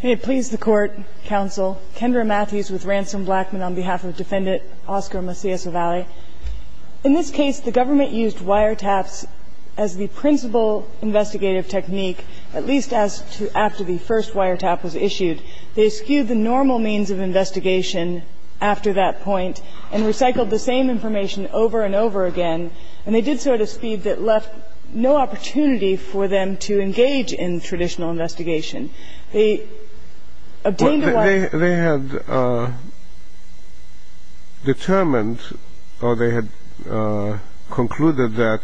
Can it please the Court, Counsel, Kendra Matthews with Ransom Blackmon on behalf of Defendant Oscar Macias-Ovalle. In this case, the government used wiretaps as the principal investigative technique, at least after the first wiretap was issued. They skewed the normal means of investigation after that point and recycled the same information over and over again, and they did so at a speed that left no opportunity for them to engage in traditional investigation. They obtained a wiretap. They had determined or they had concluded that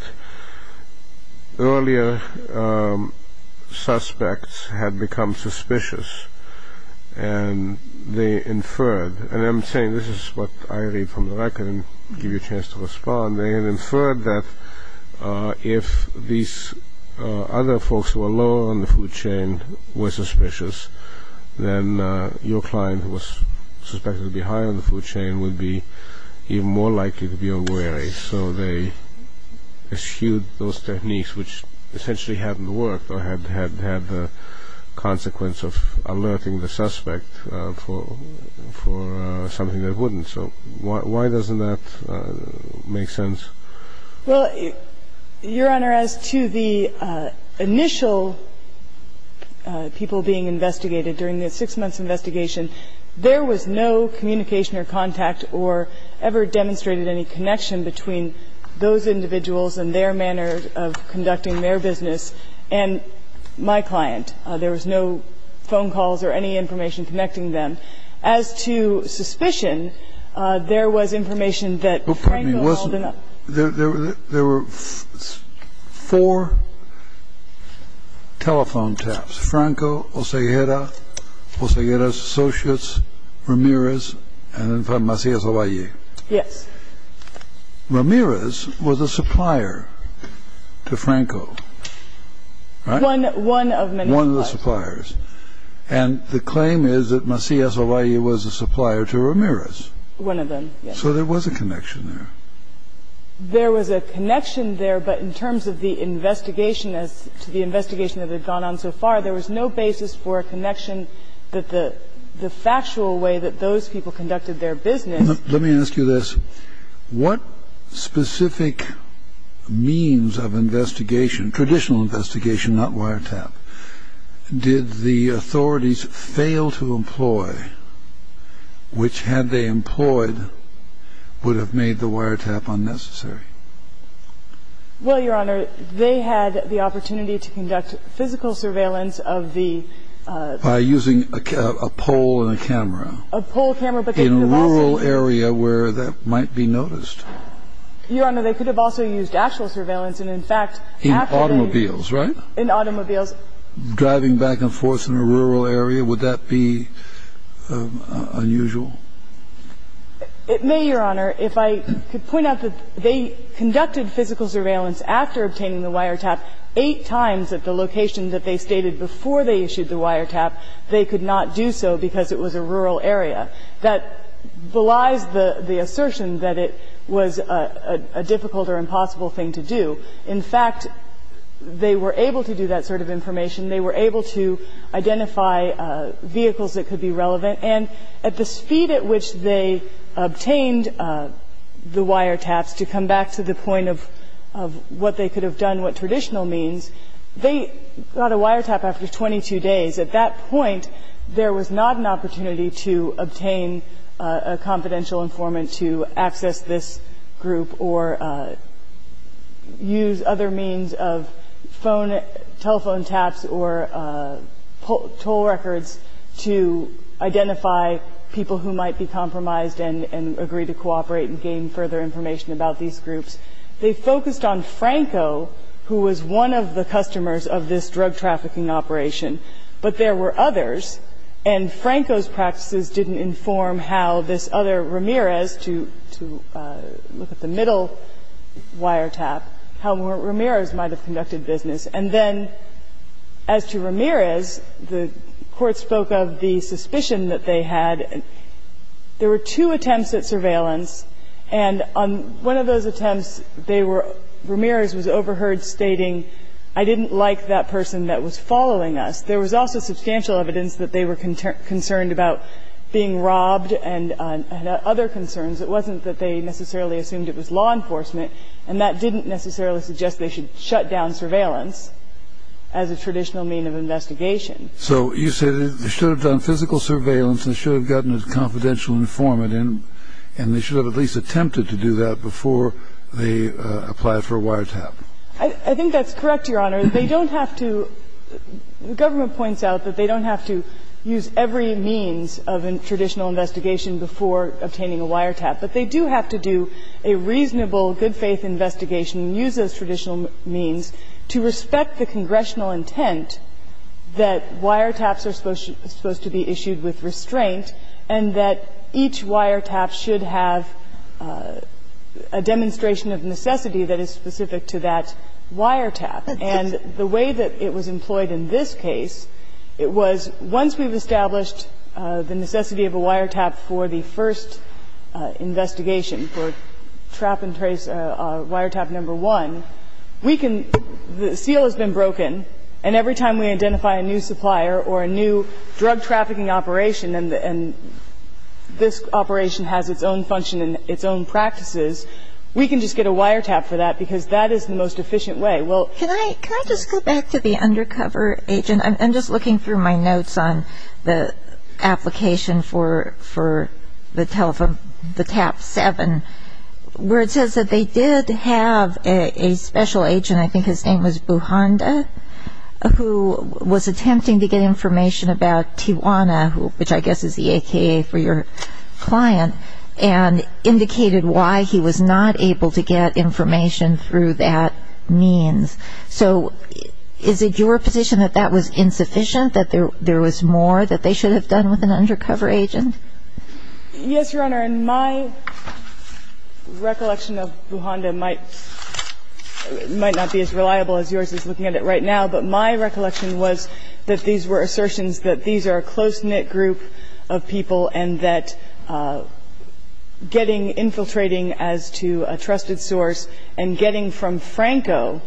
earlier suspects had become suspicious, and they inferred, and I'm saying this is what I read from the record and give you a chance to respond, and they had inferred that if these other folks who were lower on the food chain were suspicious, then your client who was suspected to be higher on the food chain would be even more likely to be a wary. So they eschewed those techniques which essentially hadn't worked or had the consequence of alerting the suspect for something that wouldn't. So why doesn't that make sense? Well, Your Honor, as to the initial people being investigated during the six months' investigation, there was no communication or contact or ever demonstrated any connection between those individuals and their manner of conducting their business and my client. There was no phone calls or any information connecting them. But as to suspicion, there was information that Franco held up. There were four telephone taps, Franco, Oseguera, Oseguera's associates, Ramirez and Macias Avalli. Yes. Ramirez was a supplier to Franco, right? One of many suppliers. Ramirez was a supplier to Ramirez, right? One of many suppliers. And the claim is that Macias Avalli was a supplier to Ramirez. One of them, yes. So there was a connection there. There was a connection there, but in terms of the investigation as to the investigation that had gone on so far, there was no basis for a connection that the factual way that those people conducted their business. Let me ask you this. What specific means of investigation, traditional investigation, not wiretap, did the authorities fail to employ which, had they employed, would have made the wiretap unnecessary? Well, Your Honor, they had the opportunity to conduct physical surveillance of the ---- By using a pole and a camera. A pole, camera, but they could have also ---- In a rural area where that might be noticed. Your Honor, they could have also used actual surveillance, and in fact, after they ---- In automobiles, right? In automobiles. Driving back and forth in a rural area, would that be unusual? It may, Your Honor. If I could point out that they conducted physical surveillance after obtaining the wiretap eight times at the location that they stated before they issued the wiretap. They could not do so because it was a rural area. That belies the assertion that it was a difficult or impossible thing to do. In fact, they were able to do that sort of information. They were able to identify vehicles that could be relevant. And at the speed at which they obtained the wiretaps, to come back to the point of what they could have done, what traditional means, they got a wiretap after 22 days. At that point, there was not an opportunity to obtain a confidential informant to access this group or use other means of phone, telephone taps or toll records to identify people who might be compromised and agree to cooperate and gain further information about these groups. They focused on Franco, who was one of the customers of this drug trafficking operation, but there were others. And Franco's practices didn't inform how this other, Ramirez, to look at the middle wiretap, how Ramirez might have conducted business. And then as to Ramirez, the Court spoke of the suspicion that they had. There were two attempts at surveillance, and on one of those attempts, they were not successful. So Ramirez was overheard stating, I didn't like that person that was following us. There was also substantial evidence that they were concerned about being robbed and other concerns. It wasn't that they necessarily assumed it was law enforcement, and that didn't necessarily suggest they should shut down surveillance as a traditional mean of investigation. So you said they should have done physical surveillance and should have gotten a I think that's correct, Your Honor. They don't have to – the government points out that they don't have to use every means of a traditional investigation before obtaining a wiretap. But they do have to do a reasonable, good-faith investigation and use those traditional means to respect the congressional intent that wiretaps are supposed to be issued with restraint and that each wiretap should have a demonstration of necessity that is specific to that wiretap. And the way that it was employed in this case, it was once we've established the necessity of a wiretap for the first investigation, for trap and trace wiretap number one, we can – the seal has been broken, and every time we identify a new supplier or a new drug trafficking operation and this operation has its own function and its own practices, we can just get a wiretap for that because that is the most efficient way. Well – Can I just go back to the undercover agent? I'm just looking through my notes on the application for the tap seven, where it says that they did have a special agent, I think his name was Buhanda, who was attempting to get information about Tijuana, which I guess is the AKA for your client. And indicated why he was not able to get information through that means. So is it your position that that was insufficient, that there was more that they should have done with an undercover agent? Yes, Your Honor. And my recollection of Buhanda might not be as reliable as yours is looking at it right now, but my recollection was that these were assertions that these are a close-knit group of people and that getting – infiltrating as to a trusted source and getting from Franco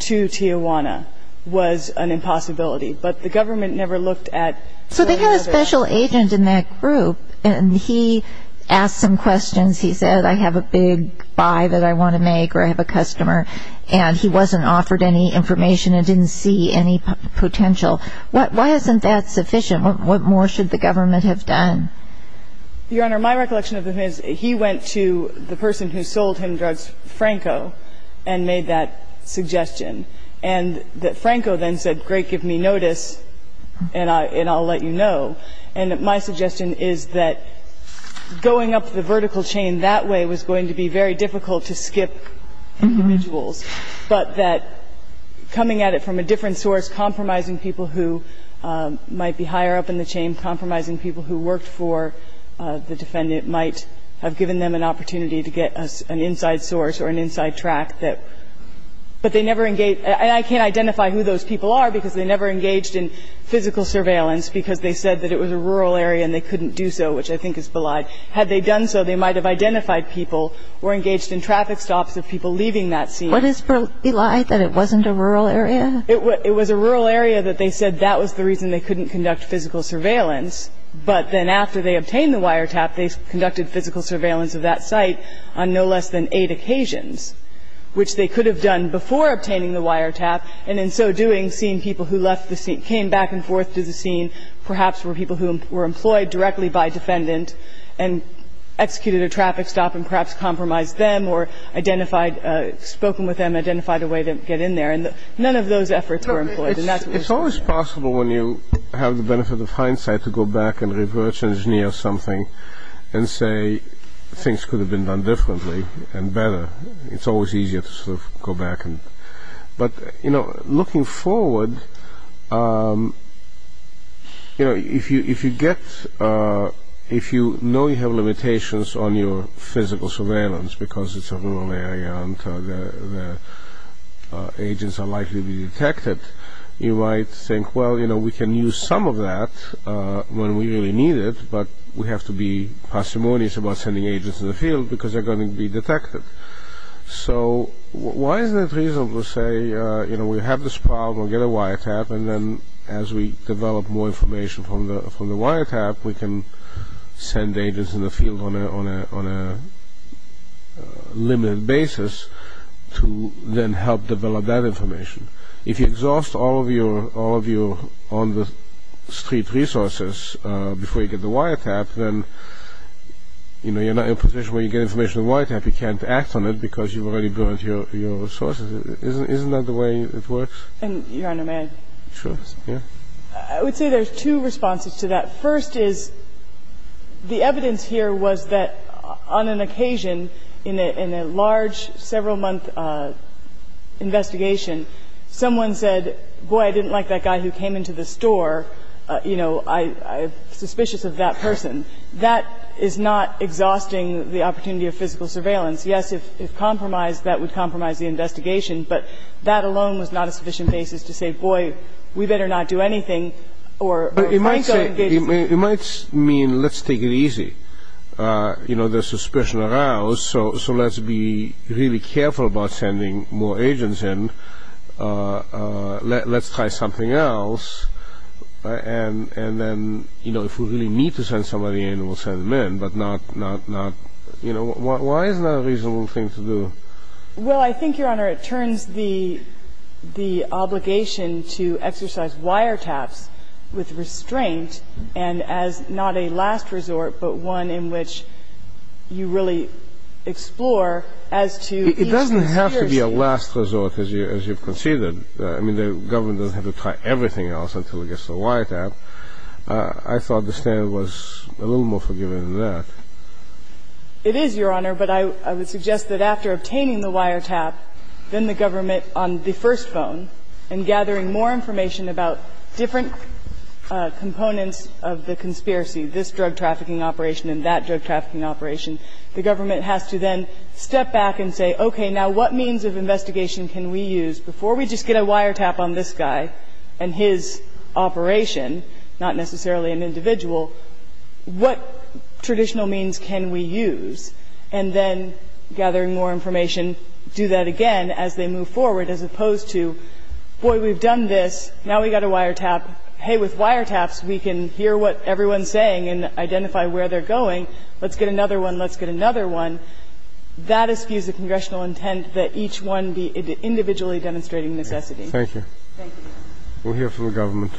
to Tijuana was an impossibility. But the government never looked at – So they had a special agent in that group and he asked some questions. He said, I have a big buy that I want to make or I have a customer, and he wasn't offered any information and didn't see any potential. Why isn't that sufficient? What more should the government have done? Your Honor, my recollection of him is he went to the person who sold him drugs, Franco, and made that suggestion. And Franco then said, great, give me notice and I'll let you know. And my suggestion is that going up the vertical chain that way was going to be very difficult to skip individuals, but that coming at it from a different source, compromising people who might be higher up in the chain, compromising people who worked for the defendant might have given them an opportunity to get an inside source or an inside track that – but they never engaged – and I can't identify who those people are because they never engaged in physical surveillance because they said that it was a rural area and they couldn't do so, which I think is belied. Had they done so, they might have identified people or engaged in traffic stops of people leaving that scene. What is belied, that it wasn't a rural area? It was a rural area that they said that was the reason they couldn't conduct physical surveillance. But then after they obtained the wiretap, they conducted physical surveillance of that site on no less than eight occasions, which they could have done before obtaining the wiretap. And in so doing, seeing people who left the scene – came back and forth to the scene, perhaps were people who were employed directly by a defendant and executed a traffic stop and perhaps compromised them or identified – spoken with them, identified a way to get in there. And none of those efforts were employed. It's always possible when you have the benefit of hindsight to go back and reverse engineer something and say things could have been done differently and better. It's always easier to sort of go back and – but, you know, looking forward, you know, if you get – if you know you have limitations on your physical surveillance because it's a rural area and the agents are likely to be detected, you might think, well, you know, we can use some of that when we really need it, but we have to be parsimonious about sending agents in the field because they're going to be detected. So why is it reasonable to say, you know, we have this problem, get a wiretap, and then as we develop more information from the wiretap, we can send agents in the field on a limited basis to then help develop that information? If you exhaust all of your on-the-street resources before you get the wiretap, then, you know, you're not in a position where you get information on the wiretap. You can't act on it because you've already burned your resources. Isn't that the way it works? Your Honor, may I? Sure. Yeah. I would say there's two responses to that. First is the evidence here was that on an occasion in a large several-month investigation, someone said, boy, I didn't like that guy who came into the store, you know, I'm suspicious of that person. That is not exhausting the opportunity of physical surveillance. Yes, if compromised, that would compromise the investigation, but that alone was not a sufficient basis to say, boy, we better not do anything or we might go and get more agents. It might mean let's take it easy. You know, there's suspicion around, so let's be really careful about sending more agents in. Let's try something else, and then, you know, if we really need to send somebody in, we'll send them in, but not, you know, why is that a reasonable thing to do? Well, I think, Your Honor, it turns the obligation to exercise wiretaps with restraint and as not a last resort, but one in which you really explore as to each procedure. It doesn't have to be a last resort, as you've conceded. I mean, the government doesn't have to try everything else until it gets a wiretap. I thought the standard was a little more forgiving than that. It is, Your Honor, but I would suggest that after obtaining the wiretap, then the government on the first phone and gathering more information about different components of the conspiracy, this drug trafficking operation and that drug trafficking operation, the government has to then step back and say, okay, now what means of investigation can we use before we just get a wiretap on this guy and his operation, not necessarily an individual, what traditional means can we use, and then gathering more information, do that again as they move forward, as opposed to, boy, we've done this, now we've got a wiretap. Hey, with wiretaps, we can hear what everyone's saying and identify where they're going. Let's get another one. Let's get another one. And that is, excuse the congressional intent, that each one be individually demonstrating necessity. Thank you. Thank you. We'll hear from the government.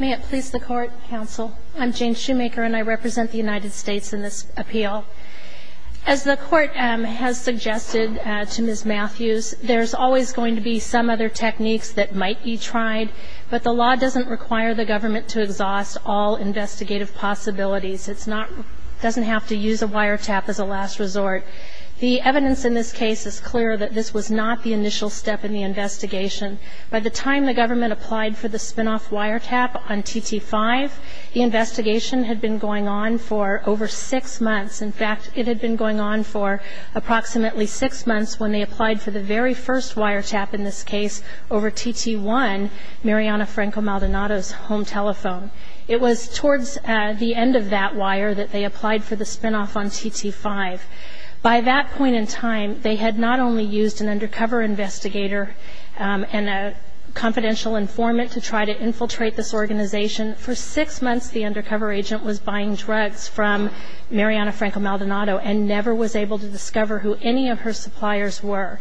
May it please the Court, counsel. I'm Jane Shoemaker, and I represent the United States in this appeal. As the Court has suggested to Ms. Matthews, there's always going to be some other government to exhaust all investigative possibilities. It doesn't have to use a wiretap as a last resort. The evidence in this case is clear that this was not the initial step in the investigation. By the time the government applied for the spinoff wiretap on TT5, the investigation had been going on for over six months. In fact, it had been going on for approximately six months when they applied for the very first wiretap in this case over TT1, Mariana Franco-Maldonado's home telephone. It was towards the end of that wire that they applied for the spinoff on TT5. By that point in time, they had not only used an undercover investigator and a confidential informant to try to infiltrate this organization. For six months, the undercover agent was buying drugs from Mariana Franco-Maldonado and never was able to discover who any of her suppliers were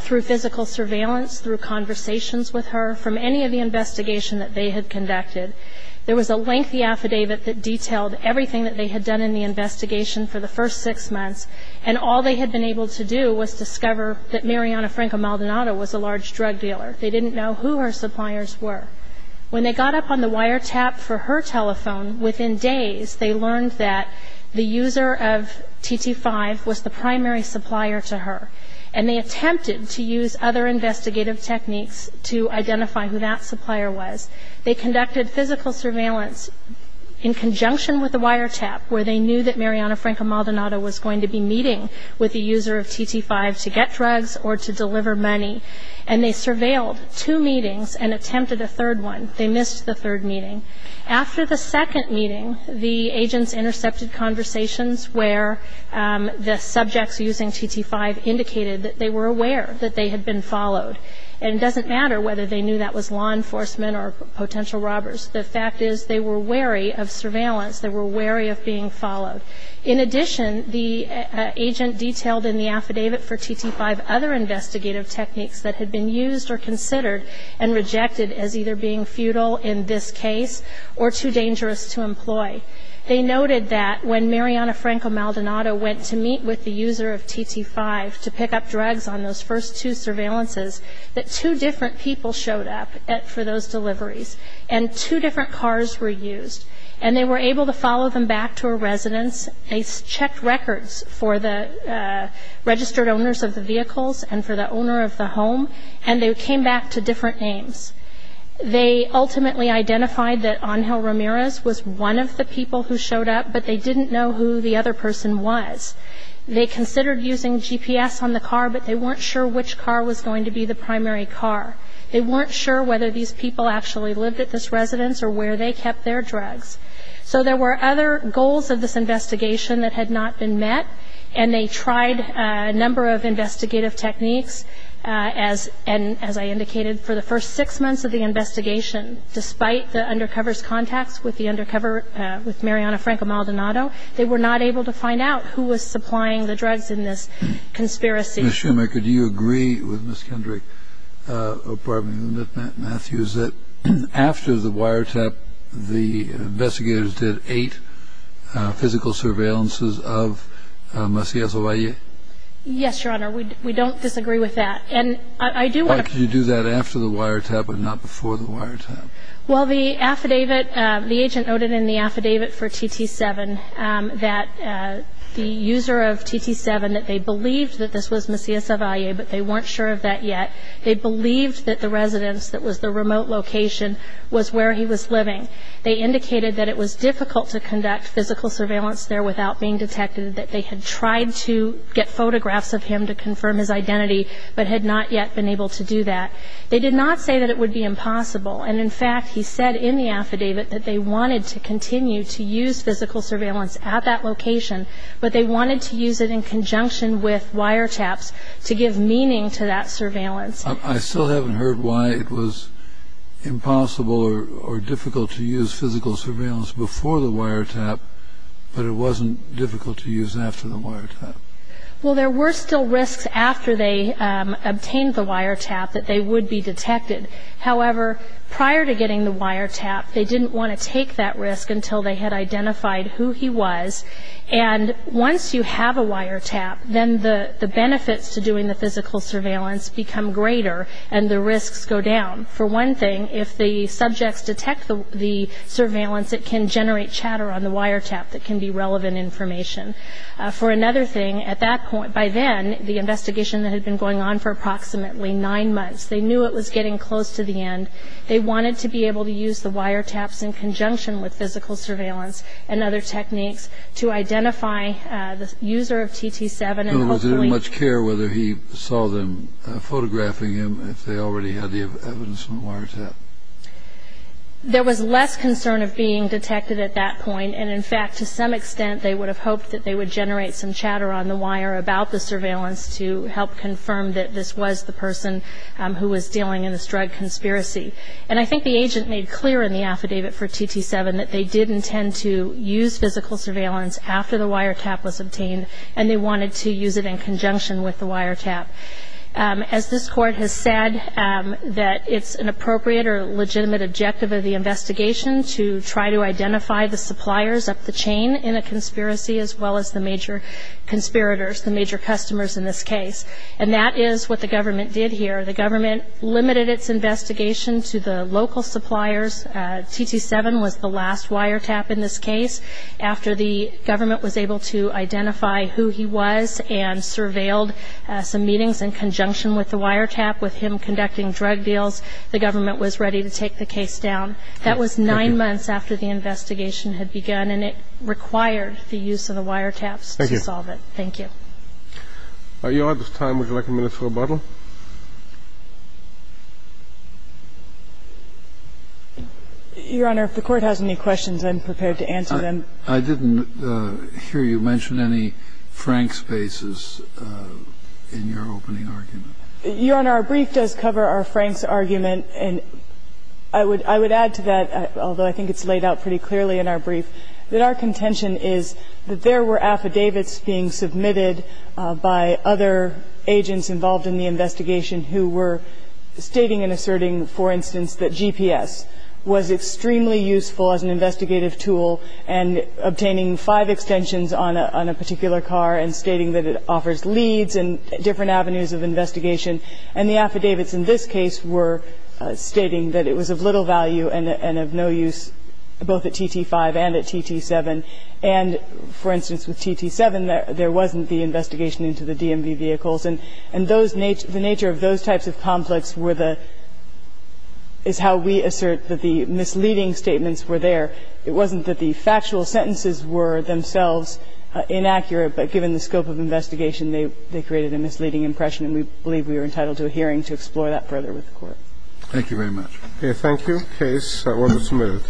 through physical surveillance, through conversations with her, from any of the investigation that they had conducted. There was a lengthy affidavit that detailed everything that they had done in the investigation for the first six months, and all they had been able to do was discover that Mariana Franco-Maldonado was a large drug dealer. They didn't know who her suppliers were. When they got up on the wiretap for her telephone, within days they learned that the user of TT5 was the primary supplier to her, and they attempted to use other investigative techniques to identify who that supplier was. They conducted physical surveillance in conjunction with the wiretap, where they knew that Mariana Franco-Maldonado was going to be meeting with the user of TT5 to get drugs or to deliver money, and they surveilled two meetings and attempted a third one. They missed the third meeting. After the second meeting, the agents intercepted conversations where the subjects using TT5 indicated that they were aware that they had been followed, and it doesn't matter whether they knew that was law enforcement or potential robbers. The fact is they were wary of surveillance. They were wary of being followed. In addition, the agent detailed in the affidavit for TT5 other investigative techniques that had been used or considered and rejected as either being futile in this case or too dangerous to employ. They noted that when Mariana Franco-Maldonado went to meet with the user of TT5 to pick up drugs on those first two surveillances, that two different people showed up for those deliveries, and two different cars were used. And they were able to follow them back to a residence. They checked records for the registered owners of the vehicles and for the owner of the home, and they came back to different names. They ultimately identified that Angel Ramirez was one of the people who showed up, but they didn't know who the other person was. They considered using GPS on the car, but they weren't sure which car was going to be the primary car. They weren't sure whether these people actually lived at this residence or where they kept their drugs. So there were other goals of this investigation that had not been met, and they tried a number of investigative techniques. And as I indicated, for the first six months of the investigation, despite the undercover's contacts with Mariana Franco-Maldonado, they were not able to find out who was supplying the drugs in this conspiracy. Ms. Schumacher, do you agree with Ms. Kendrick, or pardon me, with Matt Matthews, that after the wiretap, the investigators did eight physical surveillances of Macias Ovalle? Yes, Your Honor. We don't disagree with that. How could you do that after the wiretap and not before the wiretap? Well, the agent noted in the affidavit for TT7 that the user of TT7, that they believed that this was Macias Ovalle, but they weren't sure of that yet. They believed that the residence that was the remote location was where he was living. They indicated that it was difficult to conduct physical surveillance there without being detected, that they had tried to get photographs of him to confirm his identity, but had not yet been able to do that. They did not say that it would be impossible, and in fact, he said in the affidavit that they wanted to continue to use physical surveillance at that location, but they I still haven't heard why it was impossible or difficult to use physical surveillance before the wiretap, but it wasn't difficult to use after the wiretap. Well, there were still risks after they obtained the wiretap that they would be detected. However, prior to getting the wiretap, they didn't want to take that risk until they had identified who he was, and once you have a wiretap, then the benefits to doing the physical surveillance become greater, and the risks go down. For one thing, if the subjects detect the surveillance, it can generate chatter on the wiretap that can be relevant information. For another thing, at that point, by then, the investigation that had been going on for approximately nine months, they knew it was getting close to the end. They wanted to be able to use the wiretaps in conjunction with physical surveillance and other techniques to identify the user of TT7 and hopefully Who didn't much care whether he saw them photographing him, if they already had the evidence from the wiretap. There was less concern of being detected at that point, and in fact, to some extent, they would have hoped that they would generate some chatter on the wire about the surveillance to help confirm that this was the person who was dealing in this drug conspiracy. And I think the agent made clear in the affidavit for TT7 that they did intend to use physical surveillance after the wiretap was obtained, and they wanted to use it in conjunction with the wiretap. As this Court has said, that it's an appropriate or legitimate objective of the investigation to try to identify the suppliers of the chain in a conspiracy, as well as the major conspirators, the major customers in this case. And that is what the government did here. The government limited its investigation to the local suppliers. TT7 was the last wiretap in this case. After the government was able to identify who he was and surveilled some meetings in conjunction with the wiretap, with him conducting drug deals, the government was ready to take the case down. That was nine months after the investigation had begun, and it required the use of the wiretaps to solve it. Thank you. Are you out of time? Would you like a minute for rebuttal? Your Honor, if the Court has any questions, I'm prepared to answer them. I didn't hear you mention any Frank spaces in your opening argument. Your Honor, our brief does cover our Franks argument. And I would add to that, although I think it's laid out pretty clearly in our brief, that our contention is that there were affidavits being submitted by other agents involved in the investigation who were stating and asserting, for instance, that GPS was extremely useful as an investigative tool and obtaining five extensions on a particular car and stating that it offers leads and different avenues of investigation. And the affidavits in this case were stating that it was of little value and of no use both at TT-5 and at TT-7. And, for instance, with TT-7, there wasn't the investigation into the DMV vehicles. And those ñ the nature of those types of conflicts were the ñ is how we assert that the misleading statements were there. It wasn't that the factual sentences were themselves inaccurate, but given the scope of investigation, they created a misleading impression. And we believe we are entitled to a hearing to explore that further with the Court. Thank you very much. Thank you. Case 122.